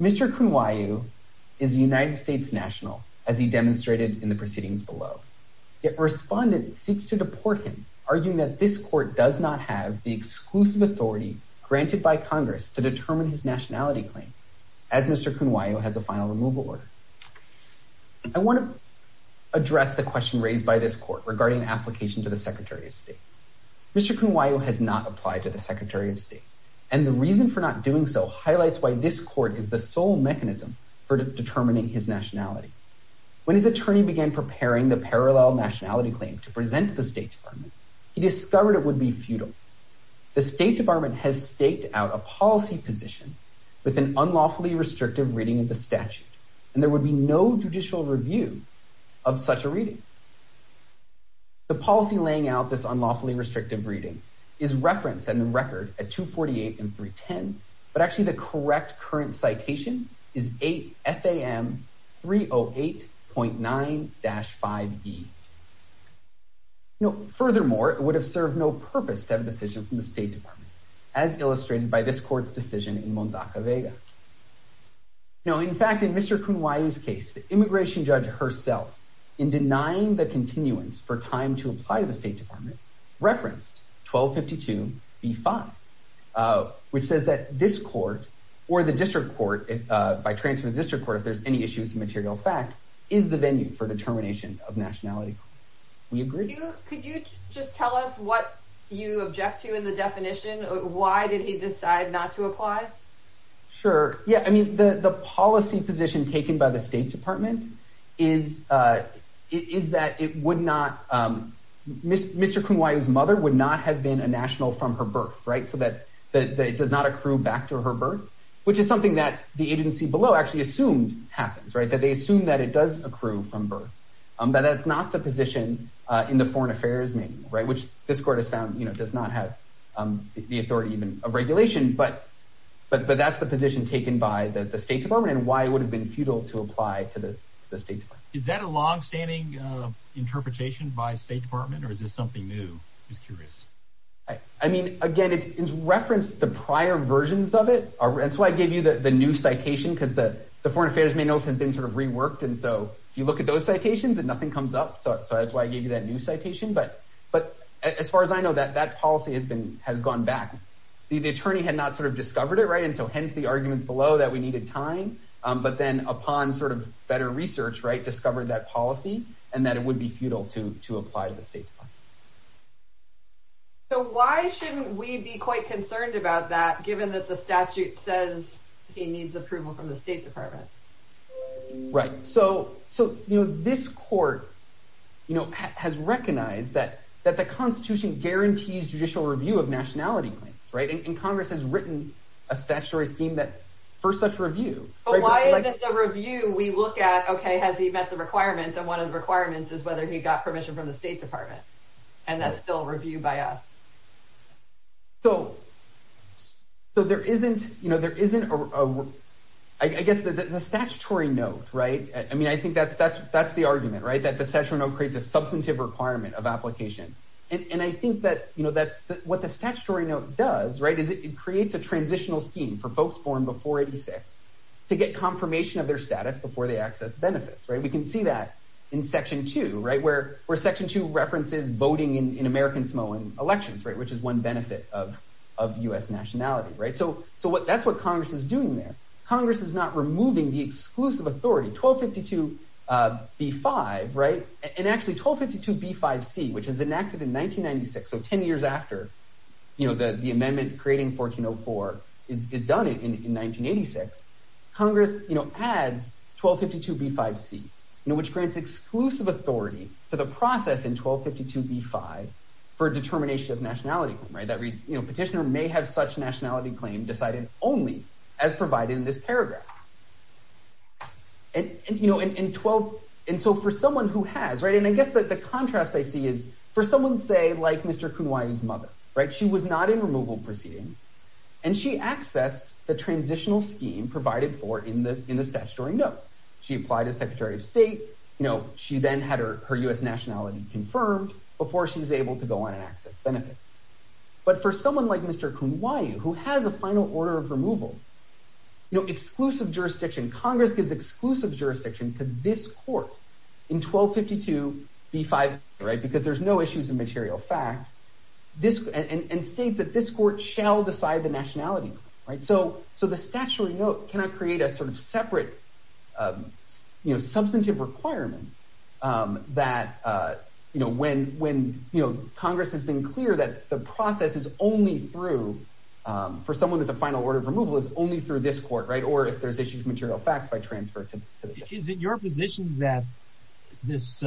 Mr. Koon Wai You is a United States national, as he demonstrated in the proceedings below. Yet a respondent seeks to deport him, arguing that this court does not have the exclusive authority granted by Congress to determine his nationality claim, as Mr. Koon Wai You has a final removal order. I want to address the question raised by this court regarding an application to the Secretary of State. Mr. Koon Wai You has not applied to the Secretary of State, and the reason for not doing so highlights why this court is the sole mechanism for determining his nationality. When his attorney began preparing the parallel nationality claim to present to the State Department, he discovered it would be futile. The State Department has staked out a policy position with an unlawfully restrictive reading of the statute, and there would be no judicial review of such a reading. The policy laying out this unlawfully restrictive reading is referenced in the record at 248 and 310, but actually the correct current citation is 8 FAM 308.9-5E. Furthermore, it would have served no purpose to have a decision from the State Department, as illustrated by this court's decision in Montaca Vega. In fact, in Mr. Koon Wai You's case, the immigration judge herself, in denying the continuance for time to apply to the State Department, referenced 1252-B-5, which says that this court, or the district court, by transferring to the district court if there is a nationality clause. Do you agree? Could you just tell us what you object to in the definition? Why did he decide not to apply? Sure. Yeah. I mean, the policy position taken by the State Department is that it would not, Mr. Koon Wai You's mother would not have been a national from her birth, right, so that it does not accrue back to her birth, which is something that the agency below actually assumed happens, right? That they assume that it does accrue from birth. But that's not the position in the Foreign Affairs Manual, right, which this court has found does not have the authority even of regulation, but that's the position taken by the State Department, and why it would have been futile to apply to the State Department. Is that a longstanding interpretation by State Department, or is this something new? I'm just curious. I mean, again, it's referenced the prior versions of it, that's why I gave you the new citation because the Foreign Affairs Manual has been sort of reworked, and so if you look at those citations, and nothing comes up, so that's why I gave you that new citation, but as far as I know, that policy has gone back. The attorney had not sort of discovered it, right, and so hence the arguments below that we needed time, but then upon sort of better research, right, discovered that policy, and that it would be futile to apply to the State Department. So why shouldn't we be quite concerned about that, given that the statute says he needs approval from the State Department? Right. So, you know, this court, you know, has recognized that the Constitution guarantees judicial review of nationality claims, right, and Congress has written a statutory scheme for such review. But why isn't the review, we look at, okay, has he met the requirements, and one of the requirements is whether he got permission from the State Department, and that's still reviewed by us. So there isn't, you know, there isn't a, I guess the statutory note, right, I mean, I think that's the argument, right, that the statutory note creates a substantive requirement of application, and I think that, you know, that's what the statutory note does, right, is it creates a transitional scheme for folks born before 86 to get confirmation of their status before they access benefits, right, we can see that in Section 2, right, where Section 2 references voting in American Samoan elections, right, which is one benefit of U.S. nationality, right, so that's what Congress is doing there, Congress is not removing the exclusive authority, 1252b-5, right, and actually 1252b-5c, which is enacted in 1996, so ten years after, you know, the amendment creating 1404 is done in 1986, Congress, you know, does not process in 1252b-5 for a determination of nationality, right, that reads, you know, petitioner may have such nationality claim decided only as provided in this paragraph, and you know, in 12, and so for someone who has, right, and I guess that the contrast I see is, for someone, say, like Mr. Kunuayu's mother, right, she was not in removal proceedings, and she accessed the transitional scheme provided for in the statutory note, she applied as nationality confirmed before she was able to go on and access benefits, but for someone like Mr. Kunuayu, who has a final order of removal, you know, exclusive jurisdiction, Congress gives exclusive jurisdiction to this court in 1252b-5, right, because there's no issues of material fact, this, and state that this court shall decide the nationality, right, so, so the statutory note cannot create a sort of separate, you know, substantive requirement that, you know, when, when, you know, Congress has been clear that the process is only through, for someone that the final order of removal is only through this court, right, or if there's issues of material facts by transfer. Is it your position that this,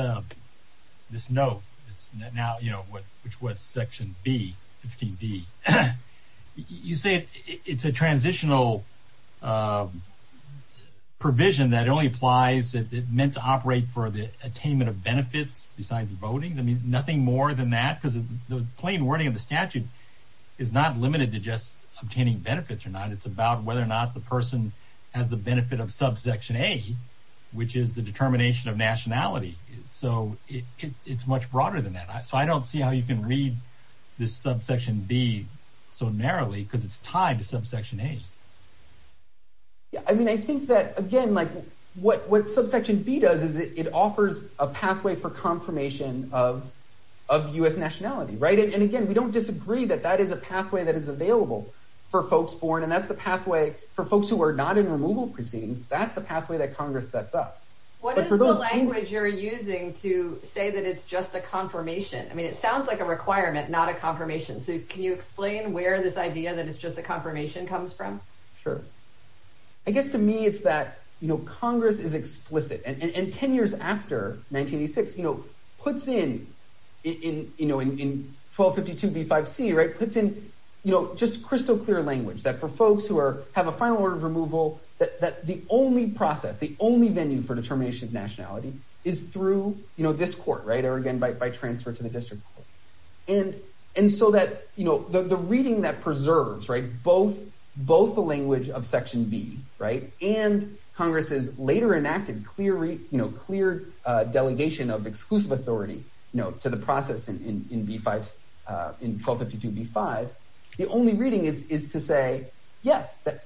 this note is now, you know, what, which was Section B, 15b, you say it's a transitional provision that only applies if it meant to operate for the attainment of benefits besides voting? I mean, nothing more than that, because the plain wording of the statute is not limited to just obtaining benefits or not, it's about whether or not the person has the benefit of subsection A, which is the determination of nationality, so it's much I mean, I think that, again, like, what, what subsection B does is it offers a pathway for confirmation of, of U.S. nationality, right? And again, we don't disagree that that is a pathway that is available for folks born, and that's the pathway for folks who are not in removal proceedings, that's the pathway that Congress sets up. What is the language you're using to say that it's just a confirmation? I mean, it sounds like a requirement, not a confirmation. So can you explain where this idea that it's just a confirmation comes from? Sure. I guess to me, it's that, you know, Congress is explicit, and 10 years after 1986, you know, puts in, in, you know, in 1252b-5c, right, puts in, you know, just crystal clear language that for folks who are, have a final order of removal, that the only process, the only venue for is court, right, or again, by transfer to the district court. And, and so that, you know, the, the reading that preserves, right, both, both the language of section B, right, and Congress's later enacted clear, you know, clear delegation of exclusive authority, you know, to the process in, in, in B-5, in 1252b-5, the only reading is, is to say, yes, that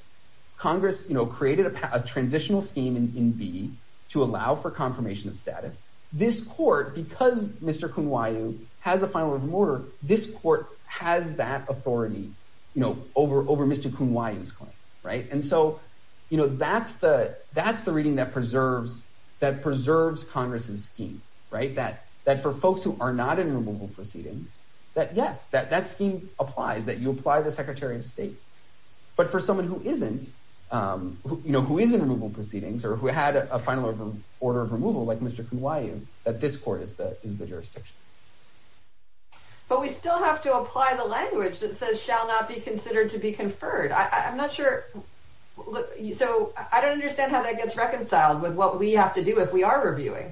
Congress, you know, created a transitional scheme in, in B to allow for confirmation of status. This court, because Mr. Kunwayu has a final order, this court has that authority, you know, over, over Mr. Kunwayu's claim, right. And so, you know, that's the, that's the reading that preserves, that preserves Congress's scheme, right, that, that for folks who are not in removal proceedings, that yes, that, that scheme applies, that you apply the Secretary of State, but for someone who isn't, you know, who is in removal proceedings, or who had a final order of removal, like Mr. Kunwayu, that this court is the, is the jurisdiction. But we still have to apply the language that says shall not be considered to be conferred. I'm not sure, so I don't understand how that gets reconciled with what we have to do if we are reviewing.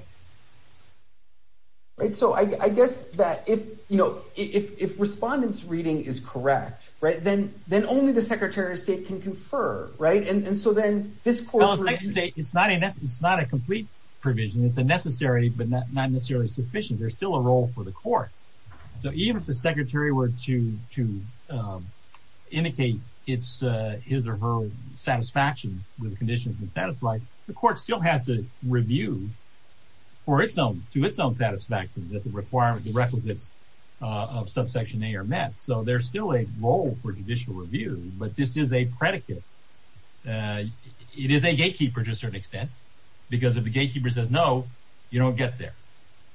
Right, so I guess that if, you know, if, if respondents reading is correct, right, then, then only the Secretary of State can confer, right, and, and so then this court... Well, it's not a, it's not a complete provision. It's a necessary, but not necessarily sufficient. There's still a role for the court. So even if the Secretary were to, to indicate its, his or her satisfaction with the conditions and satisfied, the court still has to review for its own, to its own satisfaction that the requirement, the requisites of subsection A are met. So there's still a role for judicial review, but this is a predicate. It is a gatekeeper to a certain extent, because if the gatekeeper says no, you don't get there.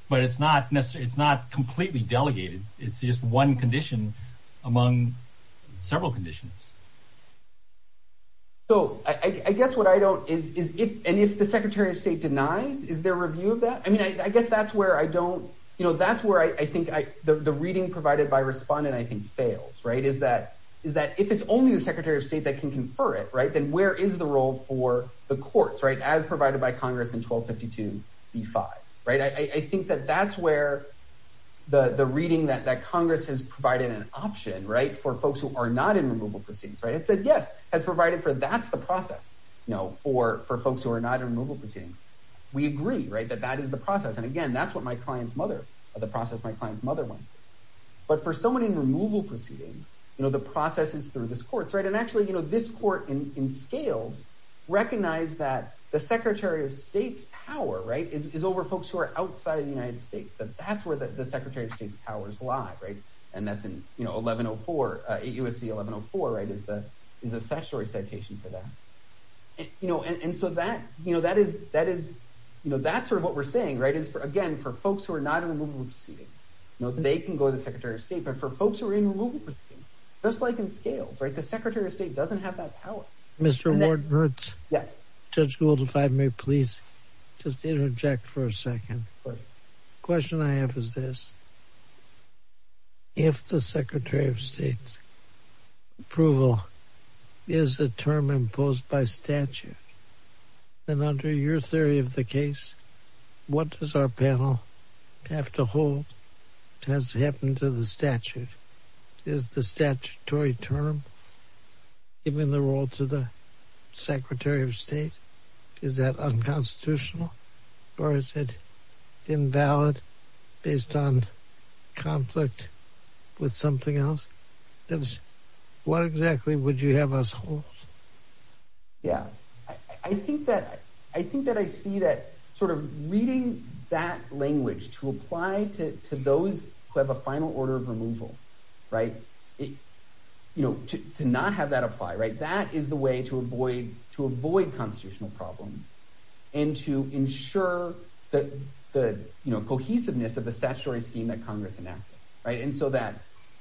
But it's not necessarily, it's not completely delegated. It's just one condition among several conditions. So I guess what I don't, is, is it, and if the Secretary of State denies, is there review of that? I mean, I guess that's where I don't, you know, that's where I think I, the, the reading provided by respondent, I think fails, right? Is that, is that if it's only the Secretary of State that can confer it, right? Then where is the role for the courts, right? As provided by Congress in 1252B5, right? I, I think that that's where the, the reading that, that Congress has provided an option, right? For folks who are not in removal proceedings, right? It said, yes, has provided for, that's the process, you know, for, for folks who are not in removal proceedings. We agree, right? That, that is the process. And again, that's what my client's mother, the process my client's mother But for someone in removal proceedings, you know, the process is through this court, right? And actually, you know, this court in, in scales recognize that the Secretary of State's power, right? Is, is over folks who are outside of the United States, that that's where the Secretary of State's powers lie, right? And that's in, you know, 1104, 8 U.S.C. 1104, right? Is the, is a statutory citation for that. You know, and, and so that, you know, that is, that is, you know, that's sort of what we're saying, right? Is for, again, for folks who are not in removal proceedings, you know, they can go to the Secretary of State, but for folks who are in removal proceedings, just like in scales, right? The Secretary of State doesn't have that power. Mr. Wurtz, Judge Gould, if I may, please just interject for a second. The question I have is this, if the Secretary of State's approval is a term imposed by statute, then under your theory of the case, what does our panel have to hold has happened to the statute? Is the statutory term given the role to the Secretary of State? Is that unconstitutional or is it invalid based on conflict with something else? What exactly would you have us hold? Yeah, I think that, I think that I see that sort of reading that language to apply to, to those who have a final order of removal, right? It, you know, to not have that apply, right? That is the way to avoid, to avoid constitutional problems and to ensure that the, you know, cohesiveness of the statutory scheme that Congress enacted, right? And so that,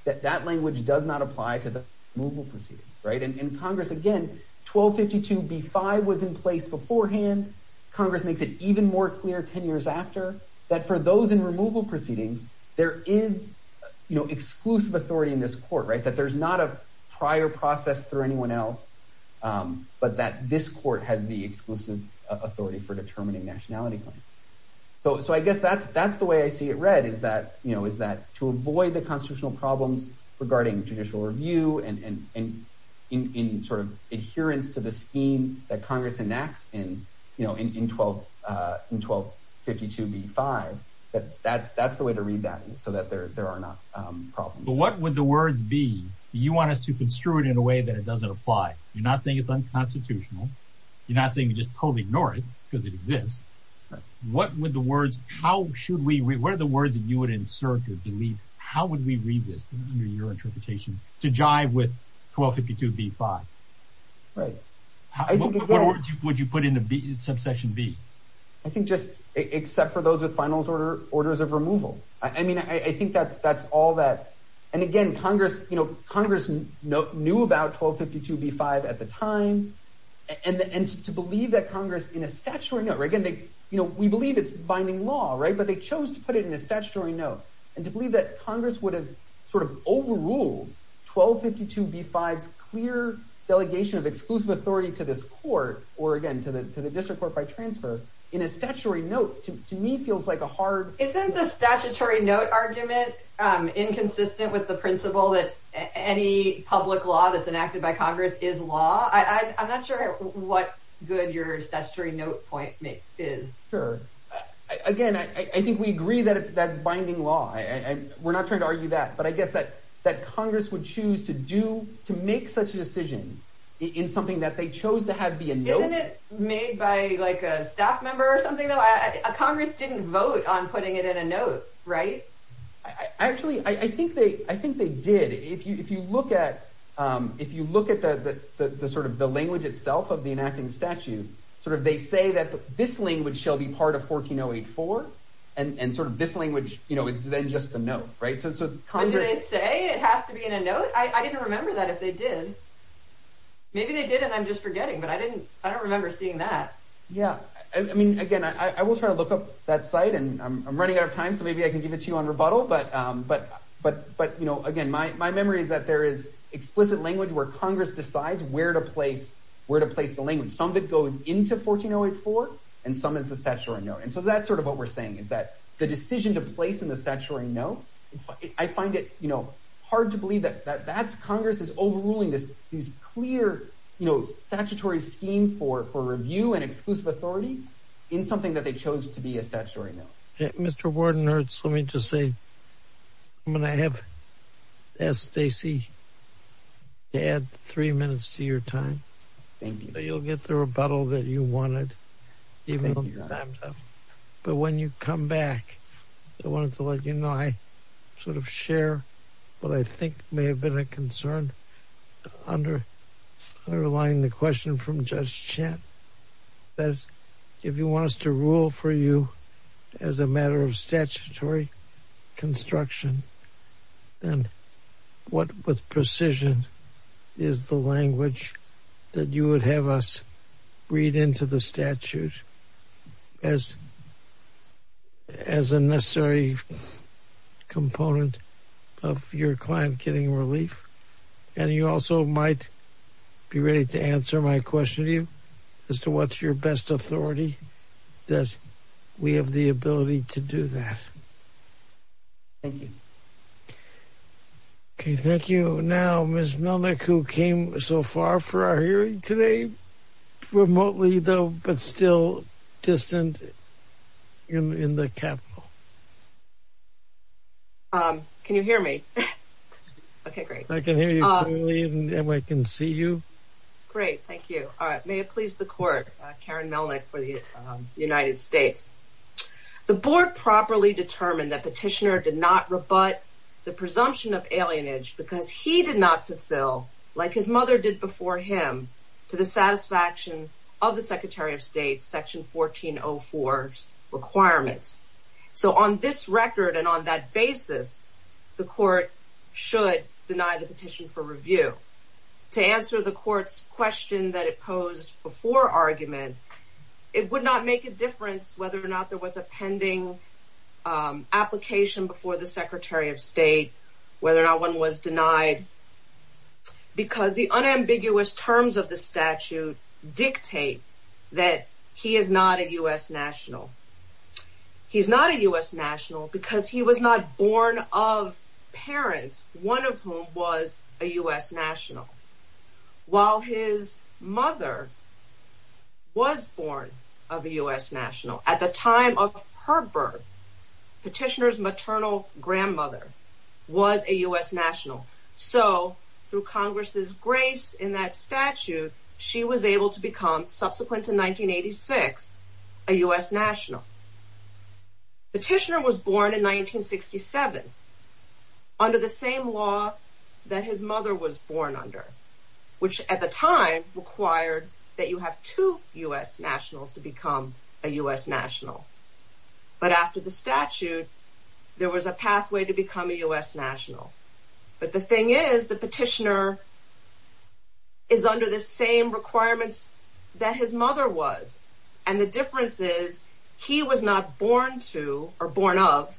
that, that language does not apply to the removal proceedings, right? And, and Congress, again, 1252b5 was in place beforehand. Congress makes it even more clear 10 years after that for those in removal proceedings, there is, you know, exclusive authority in this court, right? That there's not a prior process through anyone else, but that this court has the exclusive authority for determining nationality claims. So, so I guess that's, that's the way I see it read is that, you know, is that to avoid the review and, and, and in, in sort of adherence to the scheme that Congress enacts in, you know, in, in 12, in 1252b5, that that's, that's the way to read that so that there, there are not problems. But what would the words be? You want us to construe it in a way that it doesn't apply. You're not saying it's unconstitutional. You're not saying you just totally ignore it because it exists. What would the words, how should we, what are the words that you would insert or delete? How would we read this under your interpretation to jive with 1252b5? Right. What words would you put in the B, subsection B? I think just except for those with final order, orders of removal. I mean, I think that's, that's all that. And again, Congress, you know, Congress knew about 1252b5 at the time and the, and to believe that Congress in a statutory note, right? Again, they, you know, we believe it's binding law, right? But they chose to put it in a statutory note and to believe that Congress would have sort of overruled 1252b5's clear delegation of exclusive authority to this court or again, to the, to the district court by transfer in a statutory note to me feels like a hard... Isn't the statutory note argument inconsistent with the principle that any public law that's enacted by Congress is law? I, I, I'm not sure what good your statutory note point is. Sure. Again, I think we agree that it's, that's binding law and we're not trying to argue that, but I guess that, that Congress would choose to do, to make such a decision in something that they chose to have be a note. Isn't it made by like a staff member or something though? Congress didn't vote on putting it in a note, right? Actually, I think they, I think they did. If you, if you look at, if you look at the, the, sort of the language itself of the enacting statute, sort of, they say that this language shall be part of 14084 and, and sort of this language, you know, is then just a note, right? So, so Congress... When do they say it has to be in a note? I, I didn't remember that if they did. Maybe they did and I'm just forgetting, but I didn't, I don't remember seeing that. Yeah. I mean, again, I, I will try to look up that site and I'm running out of time, so maybe I can give it to you on rebuttal. But, but, but, but, you know, again, my, my memory is that there is explicit language where Congress decides where to place, where to place the language. Some of it goes into 14084 and some is the statutory note. And so that's sort of what we're saying is that the decision to place in the statutory note, I find it, you know, hard to believe that, that that's, Congress is overruling this, these clear, you know, statutory scheme for, for review and exclusive authority in something that they chose to be a statutory note. Mr. Warden, let me just say, I'm going to have to ask Stacey to add three minutes to your time. Thank you. You'll get the rebuttal that you wanted. But when you come back, I wanted to let you know, I sort of share what I think may have been a underlying the question from Judge Chant. That is, if you want us to rule for you as a matter of statutory construction, then what with precision is the language that you would have us read into the statute as, as a necessary component of your client getting relief. And you also might be ready to answer my question to you as to what's your best authority that we have the ability to do that. Thank you. Okay. Thank you. Now, Ms. Melnyk, who came so far for our hearing today, remotely though, but still distant in the Capitol. Can you hear me? Okay, great. I can hear you clearly and I can see you. Great. Thank you. All right. May it please the court, Karen Melnyk for the United States. The board properly determined that petitioner did not rebut the presumption of alienage because he did not fulfill like his mother did before him to the satisfaction of the Secretary of State section 1404 requirements. So on this record and on that basis, the court should deny the petition for review to answer the court's question that it posed before argument, it would not make a difference whether or not there was a pending application before the Secretary of State, whether or not one was denied because the unambiguous terms of the statute dictate that he is not a U.S. national. He's not a U.S. national because he was not born of parents, one of whom was a U.S. national. While his mother was born of a U.S. national at the time of her birth, petitioner's maternal grandmother was a U.S. national. So through Congress's grace in that statute, she was able to become subsequent to 1986 a U.S. national. Petitioner was born in 1967 under the same law that his mother was born under, which at the time required that you have two U.S. to become a U.S. national. But the thing is the petitioner is under the same requirements that his mother was. And the difference is he was not born to or born of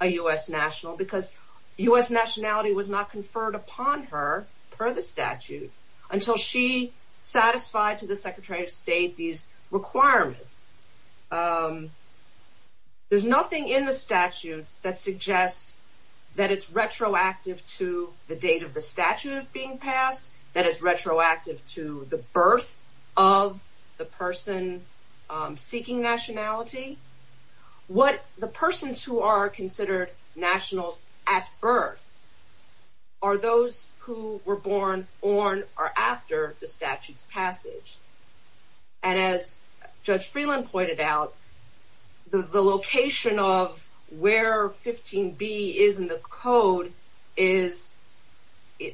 a U.S. national because U.S. nationality was not conferred upon her per the statute until she satisfied to the Secretary of State these requirements. There's nothing in the statute that suggests that it's retroactive to the date of the statute being passed, that it's retroactive to the birth of the person seeking nationality. What the persons who are considered nationals at birth are those who were born on or after the statute's passage. And as Judge Freeland pointed out, the location of where 15b is in the code is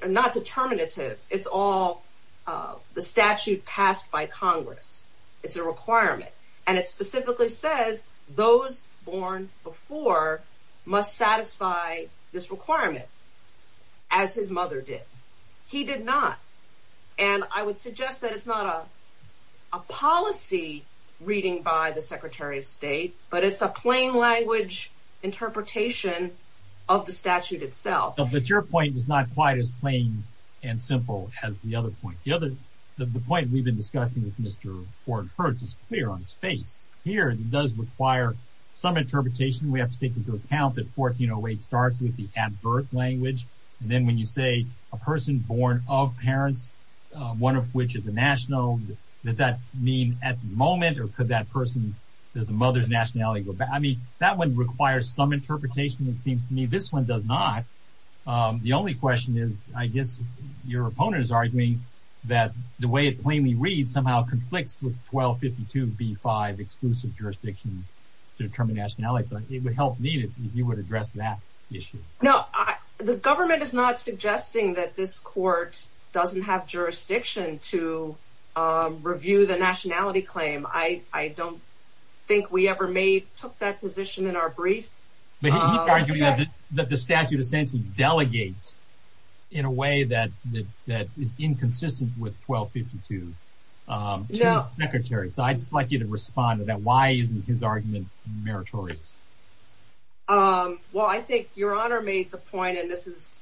not determinative. It's all the statute passed by Congress. It's a requirement. And it specifically says those born before must satisfy this requirement as his mother did. He did not. And I would suggest that it's not a policy reading by the Secretary of State, but it's a plain language interpretation of the statute itself. But your point is not quite as plain and simple as the other point. The other the point we've been discussing with Mr. Ford Hertz is clear on his face. Here it does require some interpretation. We have to take into account that 1408 starts with the at-birth language. And then when you say a person born of parents, one of which is a national, does that mean at the moment or could that person, does the mother's nationality go back? I mean, that would require some interpretation. It seems to me this one does not. The only question is, I guess your opponent is arguing that the way it plainly reads somehow conflicts with 1252b5 exclusive jurisdiction to determine nationality. It would help me if you would address that issue. No, the government is not suggesting that this court doesn't have jurisdiction to review the nationality claim. I don't think we ever may took that position in our brief. But he argued that the statute essentially delegates in a way that is inconsistent with 1252 to the Secretary. So I'd just like you to respond to that. Why isn't his argument meritorious? Well, I think your honor made the point, and this is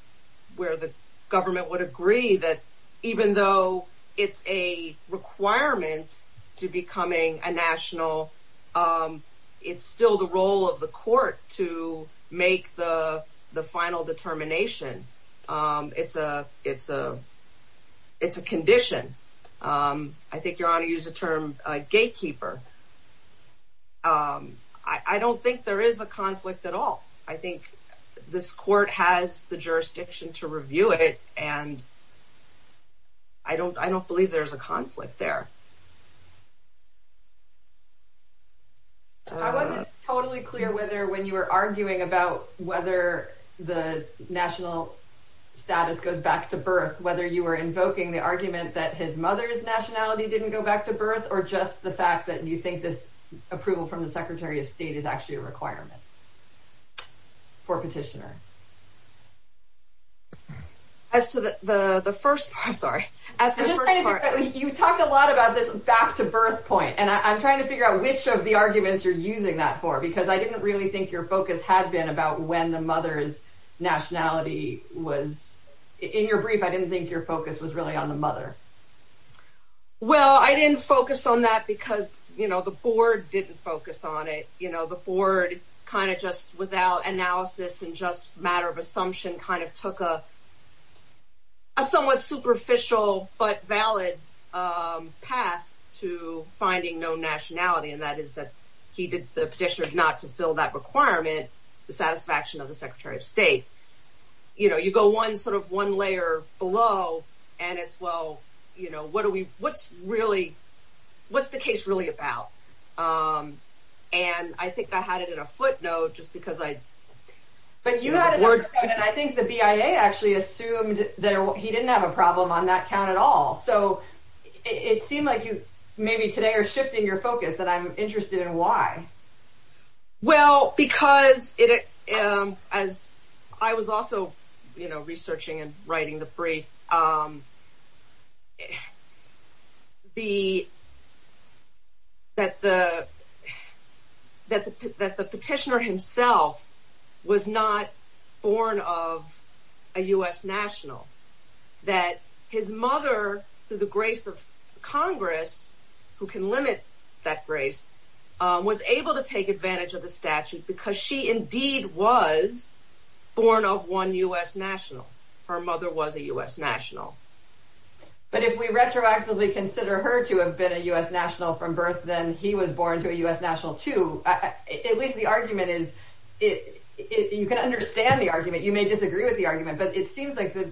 where the government would agree that even though it's a requirement to becoming a national, it's still the role of the court to make the final determination. It's a condition. I think your honor used the term gatekeeper. I don't think there is a conflict at all. I think this court has the jurisdiction to review it, and I don't believe there's a conflict there. I wasn't totally clear whether when you were arguing about whether the national status goes back to birth, whether you were invoking the argument that his mother's nationality didn't go back to birth, or just the fact that you think this approval from the Secretary of State is actually a requirement for petitioner. You talked a lot about this back to birth point, and I'm trying to figure out which of the arguments you're using that for, because I didn't really think your focus had been about when the mother's nationality was... In your brief, I didn't think your focus was really on the mother. Well, I didn't focus on that because the board didn't focus on it. The board just without analysis and just matter of assumption took a somewhat superficial but valid path to finding no nationality, and that is that the petitioner did not fulfill that requirement, the satisfaction of the Secretary of State. You go one layer below, and it's, well, what's the case really about? I think I had it at a footnote just because I... But you had it at a footnote, and I think the BIA actually assumed that he didn't have a problem on that count at all. It seemed like you maybe today are shifting your focus, and I'm interested in why. Well, because as I was also researching and writing the brief, that the petitioner himself was not born of a US national, that his mother, through the grace of Congress, who can limit that grace, was able to take advantage of the statute because she indeed was born of one US national. Her mother was a US national. But if we retroactively consider her to have been a US national from birth, then he was born to a US national too. At least the argument is... You can understand the argument. You may disagree with the argument, but it seems like the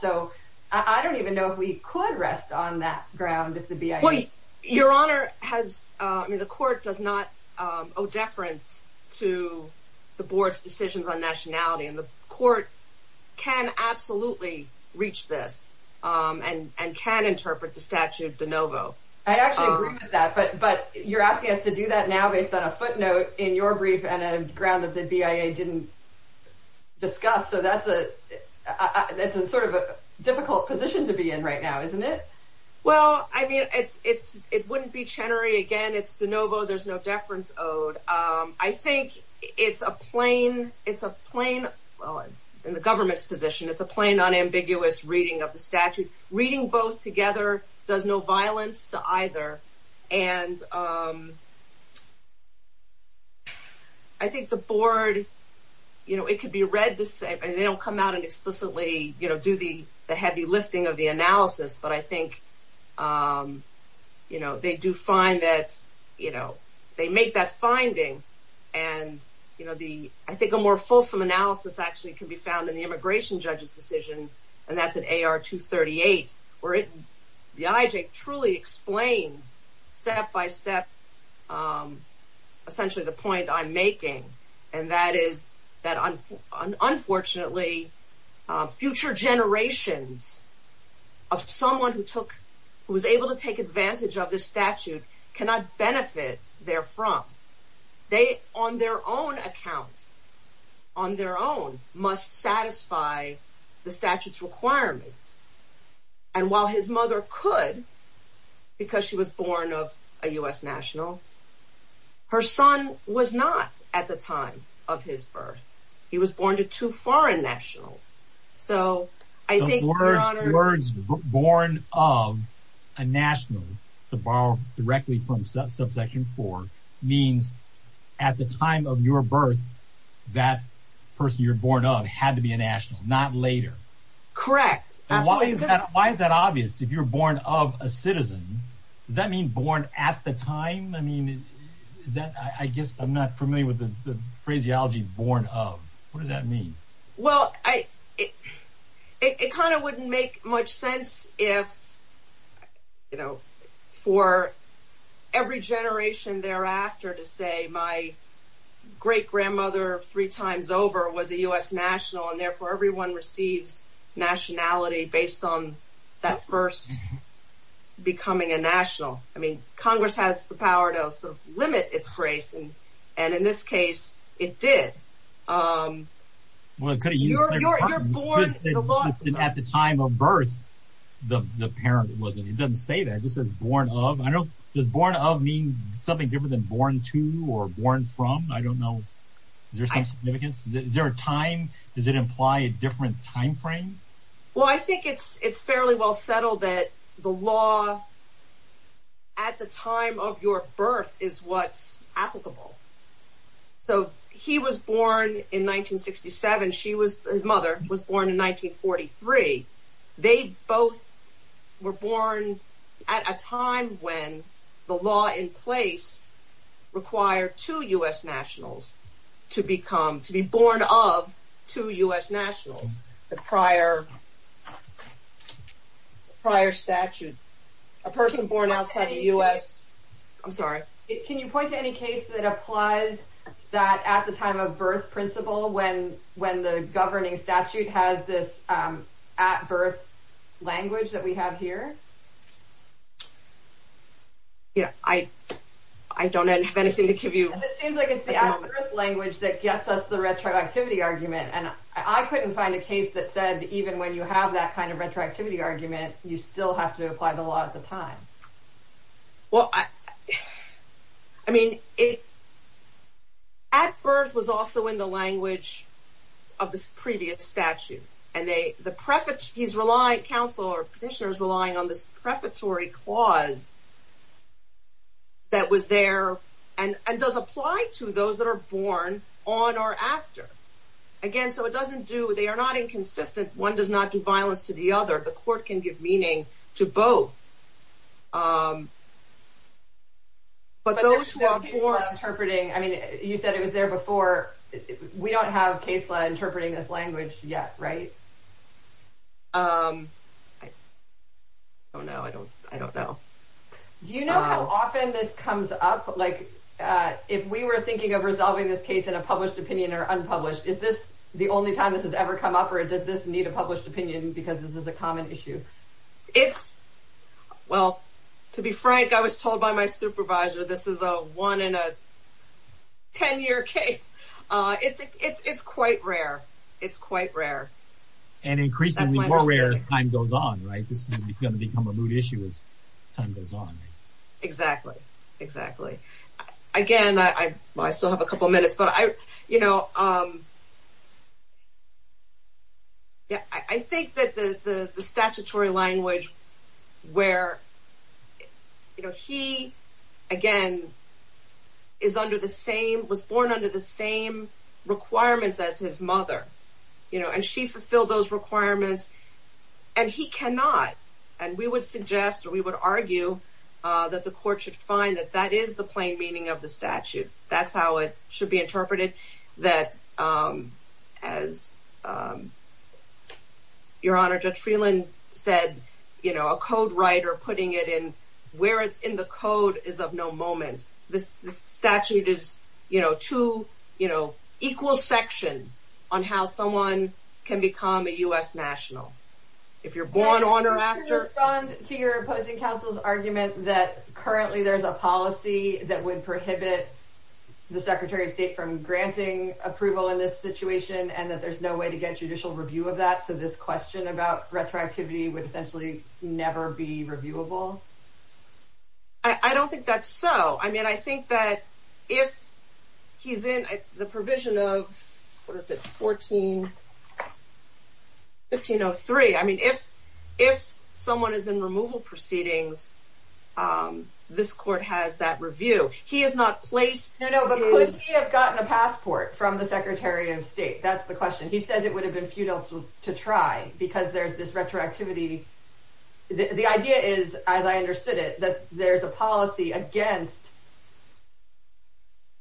So I don't even know if we could rest on that ground if the BIA... Your Honor, the court does not owe deference to the board's decisions on nationality, and the court can absolutely reach this and can interpret the statute de novo. I actually agree with that, but you're asking us to do that now based on a footnote in your brief and a ground that the BIA didn't discuss. So that's a difficult position to be in right now, isn't it? Well, I mean, it wouldn't be Chenery. Again, it's de novo. There's no deference owed. I think it's a plain... Well, in the government's position, it's a plain, unambiguous reading of the I think the board, you know, it could be read the same and they don't come out and explicitly, you know, do the heavy lifting of the analysis, but I think, you know, they do find that, you know, they make that finding and, you know, the... I think a more fulsome analysis actually can be found in the immigration judge's decision, and that's an AR 238, where the IJ truly explains step by step, essentially, the point I'm making, and that is that, unfortunately, future generations of someone who took... who was able to take advantage of this statute cannot benefit therefrom. They, on their own account, on their own, must satisfy the statute's requirements. And while his mother could, because she was born of a U.S. national, her son was not at the time of his birth. He was born to two foreign nationals. So, I think... The words born of a national, to borrow directly from subsection four, means at the time of your national, not later. Correct. Why is that obvious? If you're born of a citizen, does that mean born at the time? I mean, is that... I guess I'm not familiar with the phraseology born of. What does that mean? Well, I... it kind of wouldn't make much sense if, you know, for every generation thereafter to say my great-grandmother three times over was a U.S. national, and therefore everyone receives nationality based on that first becoming a national. I mean, Congress has the power to sort of limit its grace, and in this case, it did. Well, it could have used... You're born... At the time of birth, the parent wasn't. It doesn't say that. It just says born of. I don't... Does born of mean something different than born to or born from? I don't know. Is there some significance? Is there a time? Does it imply a different time frame? Well, I think it's fairly well settled that the law at the time of your birth is what's applicable. So, he was born in 1967. She was... His mother was born in 1943. They both were born at a time when the law in place required two U.S. nationals to become... to be born of two U.S. nationals. The prior... prior statute. A person born outside the U.S. I'm sorry. Can you point to any case that applies that at the time of birth principle when... when the governing statute has this at-birth language that we have here? Yeah, I... I don't have anything to give you. It seems like it's the at-birth language that gets us the retroactivity argument, and I couldn't find a case that said even when you have that kind of retroactivity argument, you still have to apply the law at the time. Well, I... I mean, it... At-birth was also in the language of this previous statute, and they... the pref... he's relying... counsel or petitioners relying on this prefatory clause that was there, and... and does apply to those that are born on or after. Again, so it doesn't do... they are not inconsistent. One does not do violence to the other. The court can give meaning to both, but those who are born... interpreting... I mean, you said it was there before. We don't have case law interpreting this language yet, right? Um, I don't know. I don't... I don't know. Do you know how often this comes up? Like, if we were thinking of resolving this case in a published opinion or unpublished, is this the only time this has ever come up, or does this need a published opinion because this is a common issue? It's... well, to be frank, I was told by my 10-year case. Uh, it's... it's quite rare. It's quite rare. And increasingly more rare as time goes on, right? This is going to become a moot issue as time goes on. Exactly. Exactly. Again, I... I still have a couple minutes, but I... you know, um... Yeah, I think that the... the statutory language where, you know, he, again, is under the same... was born under the same requirements as his mother, you know, and she fulfilled those requirements, and he cannot. And we would suggest, or we would argue, that the court should find that that is the plain meaning of the statute. That's how it should be interpreted. That, um, as, um, Your Honor, Judge Freeland said, you know, a code writer putting it in where it's in the code is of no moment. This... this statute is, you know, two, you know, equal sections on how someone can become a U.S. national. If you're born on or after... Can you respond to your opposing counsel's argument that currently there's a policy that would prohibit the Secretary of State from granting approval in this situation, and that there's no way to get judicial review of that, so this question about retroactivity would essentially never be reviewable? I don't think that's so. I mean, I think that if he's in the provision of, what is it, 1403, I mean, if... if someone is in removal proceedings, um, this court has that review. He is not placed... No, no, but could he have gotten a passport from the Secretary of State? That's the question. He says it would have been futile to try because there's this retroactivity. The idea is, as I understood it, that there's a policy against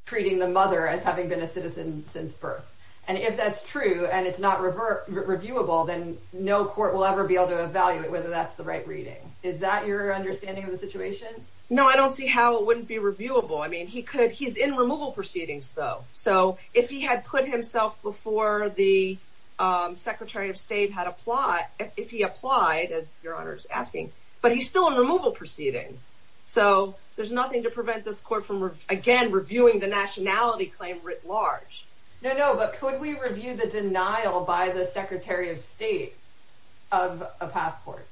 treating the mother as having been a citizen since birth, and if that's true and it's not reviewable, then no court will ever be able to evaluate whether that's the right reading. Is that your understanding of the situation? No, I don't see how it wouldn't be reviewable. I mean, he could... he's in removal proceedings, though, so if he had put himself before the Secretary of State had applied... if he applied, as Your Honor is asking, but he's still in removal proceedings, so there's nothing to prevent this court from, again, reviewing the nationality claim writ large. No, no, but could we review the denial by the Secretary of State of a passport?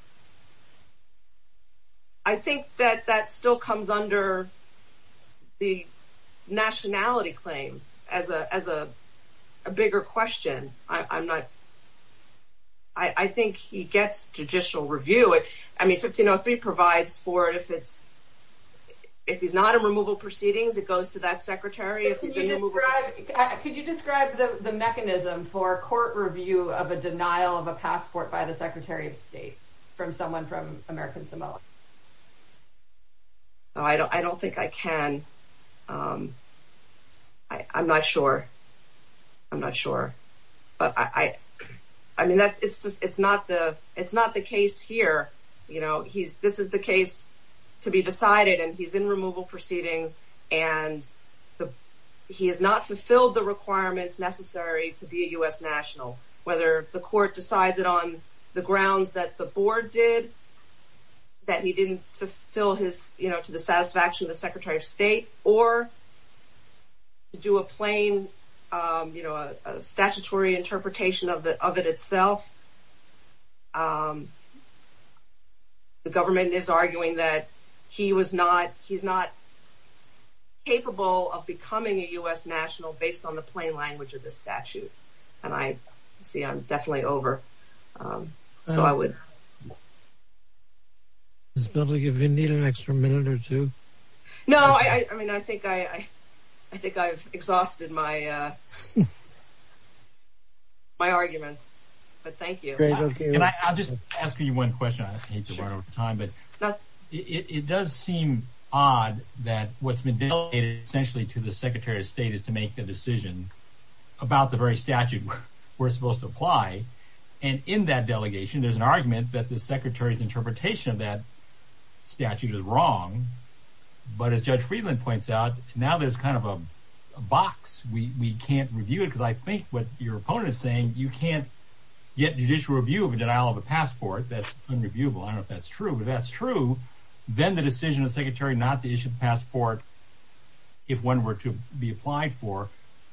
I think that that still comes under the nationality claim as a bigger question. I'm not... I think he gets judicial review. I mean, 1503 provides for it if it's... if he's not in removal proceedings, it goes to that Secretary if he's in removal proceedings. Could you describe the mechanism for court review of a denial of a passport by the Secretary of State from someone from American Samoa? No, I don't think I can. I'm not sure. I'm not sure, but I mean, it's just... it's not the... it's not the case here, you know. He's... this is the case to be decided, and he's in removal proceedings, and he has not fulfilled the requirements necessary to be a U.S. national, whether the court decides it on the grounds that the board did, that he didn't fulfill his, you know, to the satisfaction of the Secretary of State, or to do a plain, you know, a statutory interpretation of it itself. The government is arguing that he was not... he's not capable of becoming a U.S. national based on the plain language of the statute, and I see I'm definitely over, so I would... Ms. Bentley, do you need an extra minute or two? No, I mean, I think I've exhausted my arguments, but thank you. I'll just ask you one question. I hate to run out of time, but it does seem odd that what's been delegated essentially to the Secretary of State is to make the decision about the very statute we're supposed to apply, and in that delegation there's an argument that the Secretary's interpretation of that statute is wrong, but as Judge Friedland points out, now there's kind of a box. We can't review it, because I think what your opponent is saying, you can't get judicial review of a denial of a passport. That's unreviewable. I don't know not to issue a passport if one were to be applied for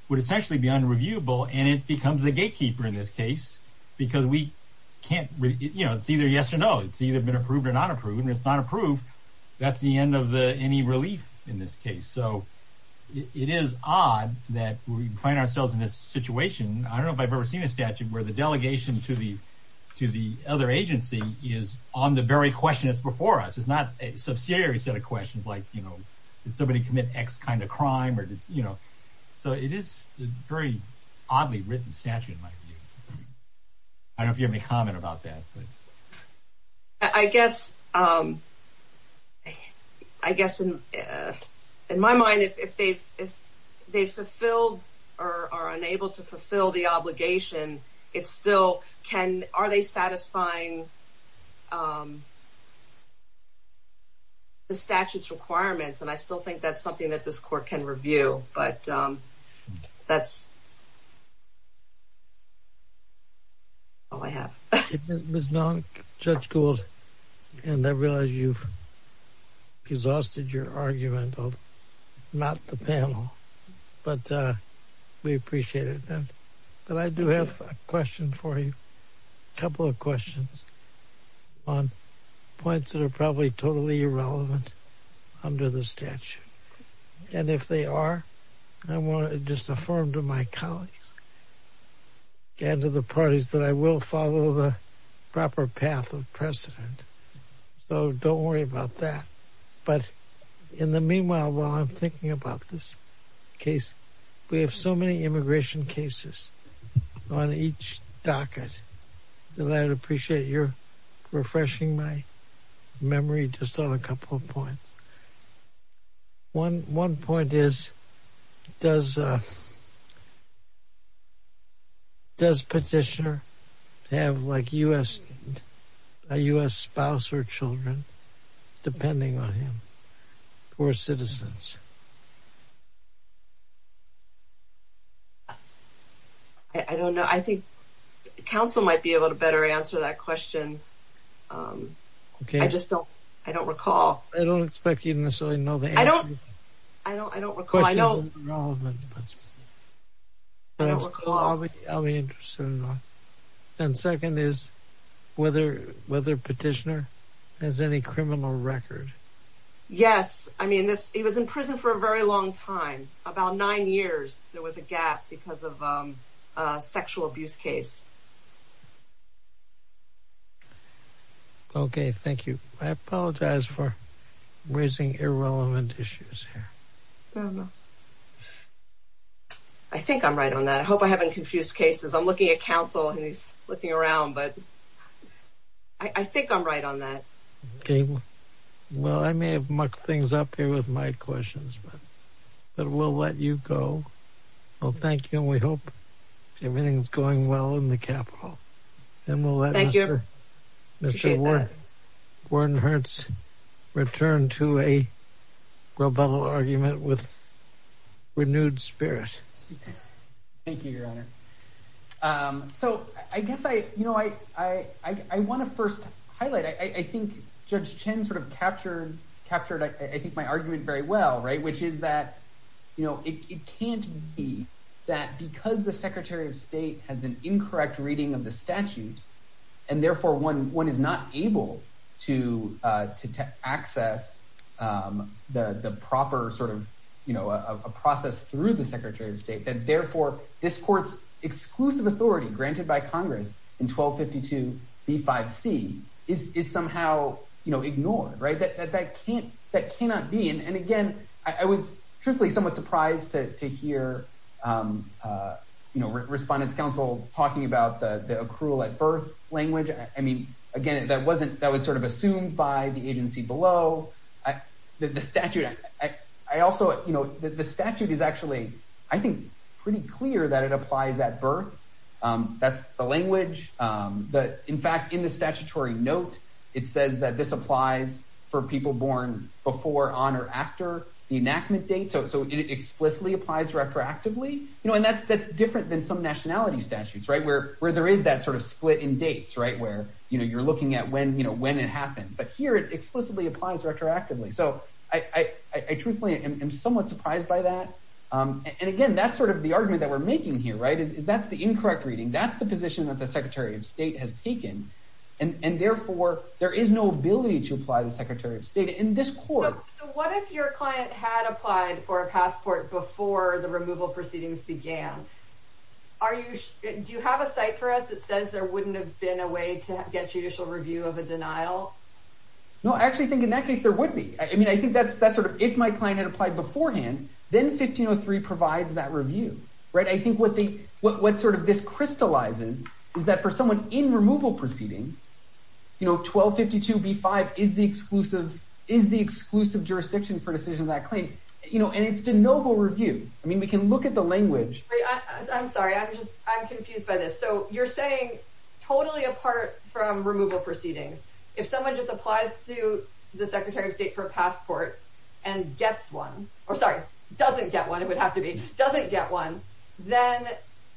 would essentially be unreviewable, and it becomes the gatekeeper in this case, because we can't, you know, it's either yes or no. It's either been approved or not approved, and it's not approved. That's the end of the any relief in this case. So it is odd that we find ourselves in this situation. I don't know if I've ever seen a statute where the delegation to the other agency is on the very question that's before us. It's not a subsidiary set of questions like, you know, did somebody commit x kind of crime or, you know. So it is a very oddly written statute in my view. I don't know if you have any comment about that. I guess in my mind, if they've fulfilled or are unable to fulfill the obligation, it still can. Are they satisfying the statute's requirements? And I still think that's something that this court can review, but that's all I have. Ms. Nonk, Judge Gould, and I realize you've exhausted your argument of not the panel, but we appreciate it. But I do have a question for you, a couple of questions on points that are probably totally irrelevant under the statute. And if they are, I want to just affirm to my colleagues and to the parties that I will follow the path of precedent. So don't worry about that. But in the meanwhile, while I'm thinking about this case, we have so many immigration cases on each docket that I'd appreciate your refreshing my memory just on a couple of points. One point is, does the petitioner have a U.S. spouse or children, depending on him, or citizens? I don't know. I think counsel might be able to better answer that question. I just don't recall. I don't expect you to necessarily know the answer. I don't recall. I'll be interested in that. And second is whether petitioner has any criminal record. Yes. I mean, he was in prison for a very long time, about nine years. There was a gap because of a sexual abuse case. Okay. Thank you. I apologize for raising irrelevant issues here. I think I'm right on that. I hope I haven't confused cases. I'm looking at counsel and he's looking around, but I think I'm right on that. Okay. Well, I may have mucked things up here with my questions, but we'll let you go. Well, thank you. And we hope everything's going well in the Capitol. And we'll let Mr. Warren Hurts return to a rebuttal argument with renewed spirit. Thank you, Your Honor. So I guess I want to first highlight, I think Judge Chen sort of captured, I think, my argument very well, which is that it can't be that because the Secretary of State has an incorrect reading of the statute and therefore one is not able to access the proper process through the Secretary of State, that therefore this court's exclusive authority granted by Congress in 1252b5c is somehow ignored. That cannot be. And again, I was truthfully somewhat surprised to hear, you know, Respondent's Counsel talking about the accrual at birth language. I mean, again, that wasn't, that was sort of assumed by the agency below. The statute, I also, you know, the statute is actually, I think, pretty clear that it applies at birth. That's the language that in fact, in the statutory note, it says that this applies for people born before, on, or after the enactment date. So it explicitly applies retroactively, you know, and that's different than some nationality statutes, right, where there is that sort of split in dates, right, where, you know, you're looking at when, you know, when it happened. But here it explicitly applies retroactively. So I truthfully am somewhat surprised by that. And again, that's sort of the argument that we're making here, right, is that's the incorrect reading. That's the position that the Secretary of State has taken. And therefore, there is no ability to apply the Secretary of State in this court. So what if your client had applied for a passport before the removal proceedings began? Are you, do you have a site for us that says there wouldn't have been a way to get judicial review of a denial? No, I actually think in that case, there would be. I mean, I think that's, that's sort of, if my client had applied beforehand, then 1503 provides that review, right? I think what they, what sort of this crystallizes is that for someone in removal proceedings, you know, 1252 B-5 is the exclusive, is the exclusive jurisdiction for decision of that claim, you know, and it's deniable review. I mean, we can look at the language. I'm sorry, I'm just, I'm confused by this. So you're saying, totally apart from removal proceedings, if someone just applies to the Secretary of State for a passport and gets one, or sorry, doesn't get one, it would have to be, doesn't get one, then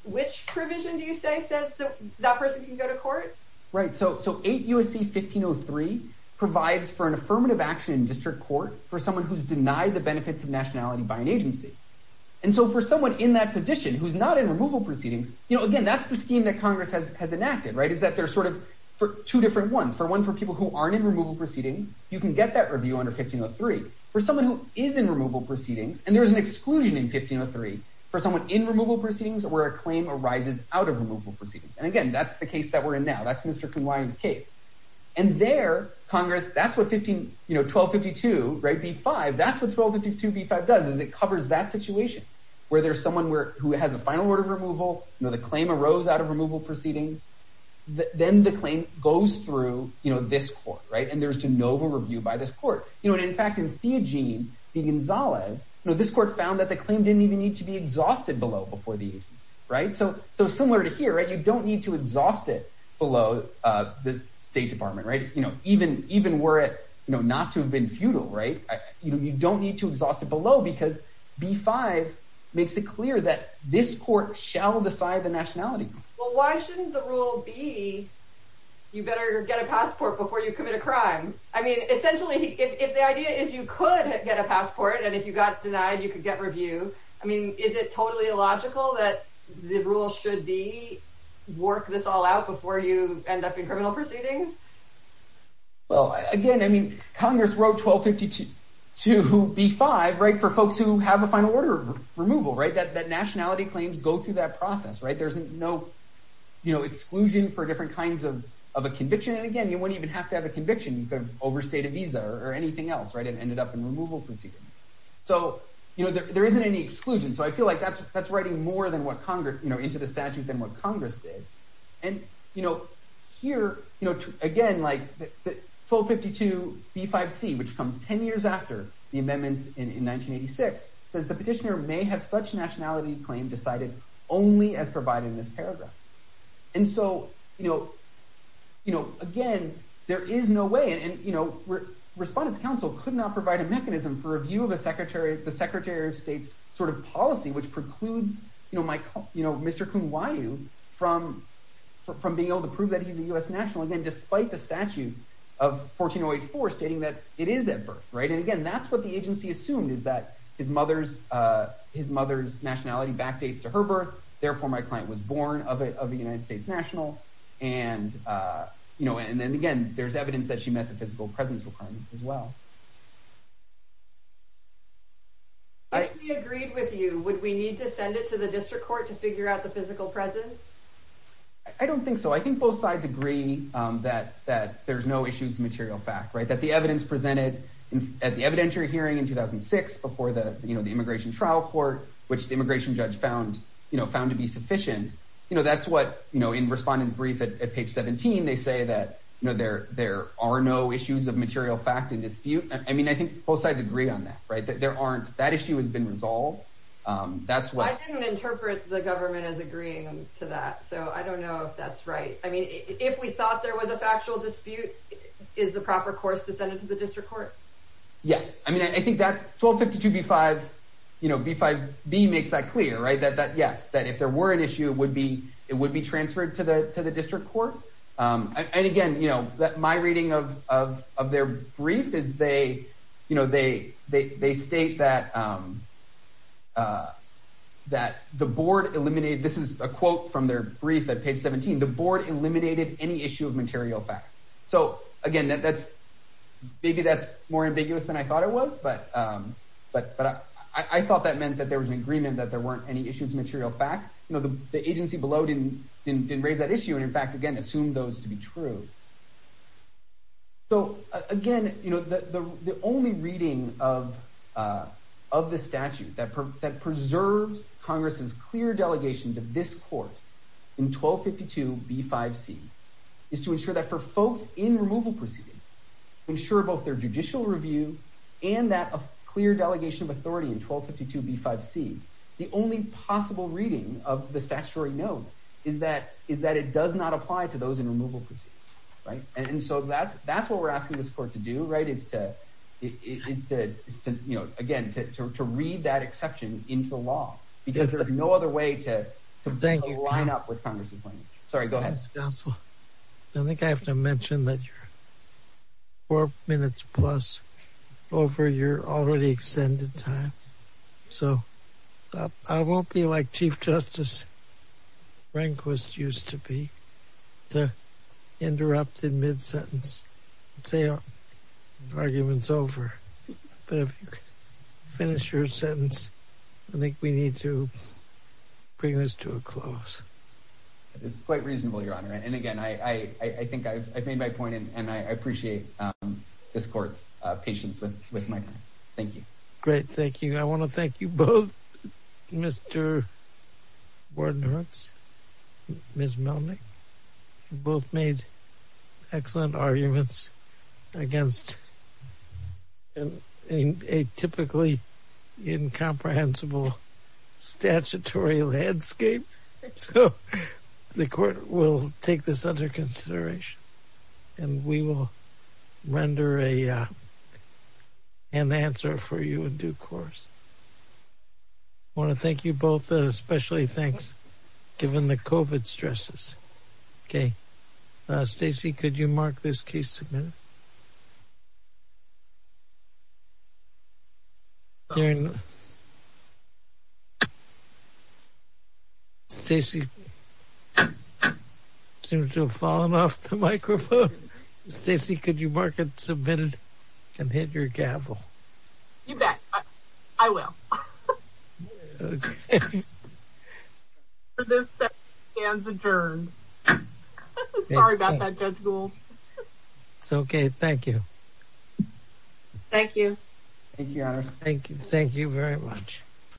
which provision do you say says that person can go to court? Right. So, so 8 U.S.C. 1503 provides for an affirmative action in district court for someone who's denied the benefits of nationality by an agency. And so for someone in that position, who's not in removal proceedings, you know, again, that's the scheme that Congress has, has enacted, right? Is that there's sort of two different ones. For one, for people who aren't in removal proceedings, you can get that review under 1503. For someone who is in removal proceedings, and there is an exclusion in 1503, for someone in removal proceedings where a claim arises out of removal proceedings. And again, that's the case that we're in now. That's Mr. Kuhn-Wyatt's case. And there, Congress, that's what 15, you know, 1252, right, B-5, that's what 1252 B-5 does, is it covers that situation where there's someone where, who has a final order of removal, you know, the claim arose out of removal proceedings. Then the claim goes through, you know, this court, right? And there's de novo review by this court. You know, and in fact, in Theogene, the Gonzalez, you know, this court found that the claim didn't even need to be exhausted below before the agency, right? So, so similar to here, right? You don't need to exhaust it below the State Department, right? You know, even, even were it, you know, not to have been futile, right? You know, you don't need to exhaust it below because B-5 makes it clear that this court shall decide the nationality. Well, why shouldn't the rule be, you better get a passport before you and if you got denied, you could get review. I mean, is it totally illogical that the rule should be work this all out before you end up in criminal proceedings? Well, again, I mean, Congress wrote 1252 B-5, right? For folks who have a final order of removal, right? That, that nationality claims go through that process, right? There's no, you know, exclusion for different kinds of, of a conviction. And again, you wouldn't even have to have a So, you know, there, there isn't any exclusion. So I feel like that's, that's writing more than what Congress, you know, into the statute than what Congress did. And, you know, here, you know, again, like the full 52 B-5C, which comes 10 years after the amendments in 1986, says the petitioner may have such nationality claim decided only as providing this paragraph. And so, you know, you know, again, there is no way and, you know, Respondents Council could not provide a mechanism for review of a secretary, the secretary of state's sort of policy, which precludes, you know, my, you know, Mr. Koonwaiu from, from being able to prove that he's a U.S. national, again, despite the statute of 14084 stating that it is at birth, right? And again, that's what the agency assumed is that his mother's, his mother's nationality backdates to her birth. Therefore, my client was born of a, of the United States national. And, you know, and then again, there's evidence that she met the presence requirements as well. I agree with you. Would we need to send it to the district court to figure out the physical presence? I don't think so. I think both sides agree that, that there's no issues, material fact, right. That the evidence presented at the evidentiary hearing in 2006 before the, you know, the immigration trial court, which the immigration judge found, you know, found to be sufficient. You know, that's what, in respondent's brief at page 17, they say that, you know, there, there are no issues of material fact and dispute. I mean, I think both sides agree on that, right. That there aren't, that issue has been resolved. That's why I didn't interpret the government as agreeing to that. So I don't know if that's right. I mean, if we thought there was a factual dispute, is the proper course to send it to the district court? Yes. I mean, I think that 1252B5, you know, B5B makes that clear, right. That, that, yes, that if there were an issue, it would be, it would be transferred to the, to the district court. And again, you know, that my reading of, of, of their brief is they, you know, they, they, they state that, that the board eliminated, this is a quote from their brief at page 17, the board eliminated any issue of material fact. So again, that's, maybe that's more ambiguous than I thought it was, but, but, but I thought that meant that there was an agreement that there weren't any issues of material fact. You know, the agency below didn't, didn't, didn't raise that issue. And in fact, again, assume those to be true. So again, you know, the, the, the only reading of, of the statute that, that preserves Congress's clear delegation to this court in 1252B5C is to ensure that for folks in removal proceedings, ensure both their judicial review and that of clear delegation of authority in 1252B5C, the only possible reading of the statutory note is that, is that it does not apply to those in removal proceedings. Right. And so that's, that's what we're asking this court to do, right. Is to, is to, is to, you know, again, to, to, to read that exception into law because there's no other way to line up with Congress's language. Sorry, go ahead. I think I have to mention that you're 4 minutes plus over your already extended time. So I won't be like Chief Justice Rehnquist used to be to interrupt in mid-sentence and say our argument's over. But if you could finish your sentence, I think we need to bring this to a close. It's quite reasonable, Your Honor. And again, I, I appreciate this court's patience with my time. Thank you. Great. Thank you. I want to thank you both, Mr. Bordenhoeks, Ms. Melnyk. You both made excellent arguments against a typically incomprehensible statutory landscape. So the court will take this under consideration and we will render an answer for you in due course. I want to thank you both, and especially thanks given the COVID stresses. Okay. Stacey, could you mark this case? Stacey, could you mark it, submit it, and hit your gavel? You bet. I will. Okay. This is adjourned. Sorry about that, Judge Gould. It's okay. Thank you. Thank you. Thank you, Your Honor. Thank you. Thank you very much.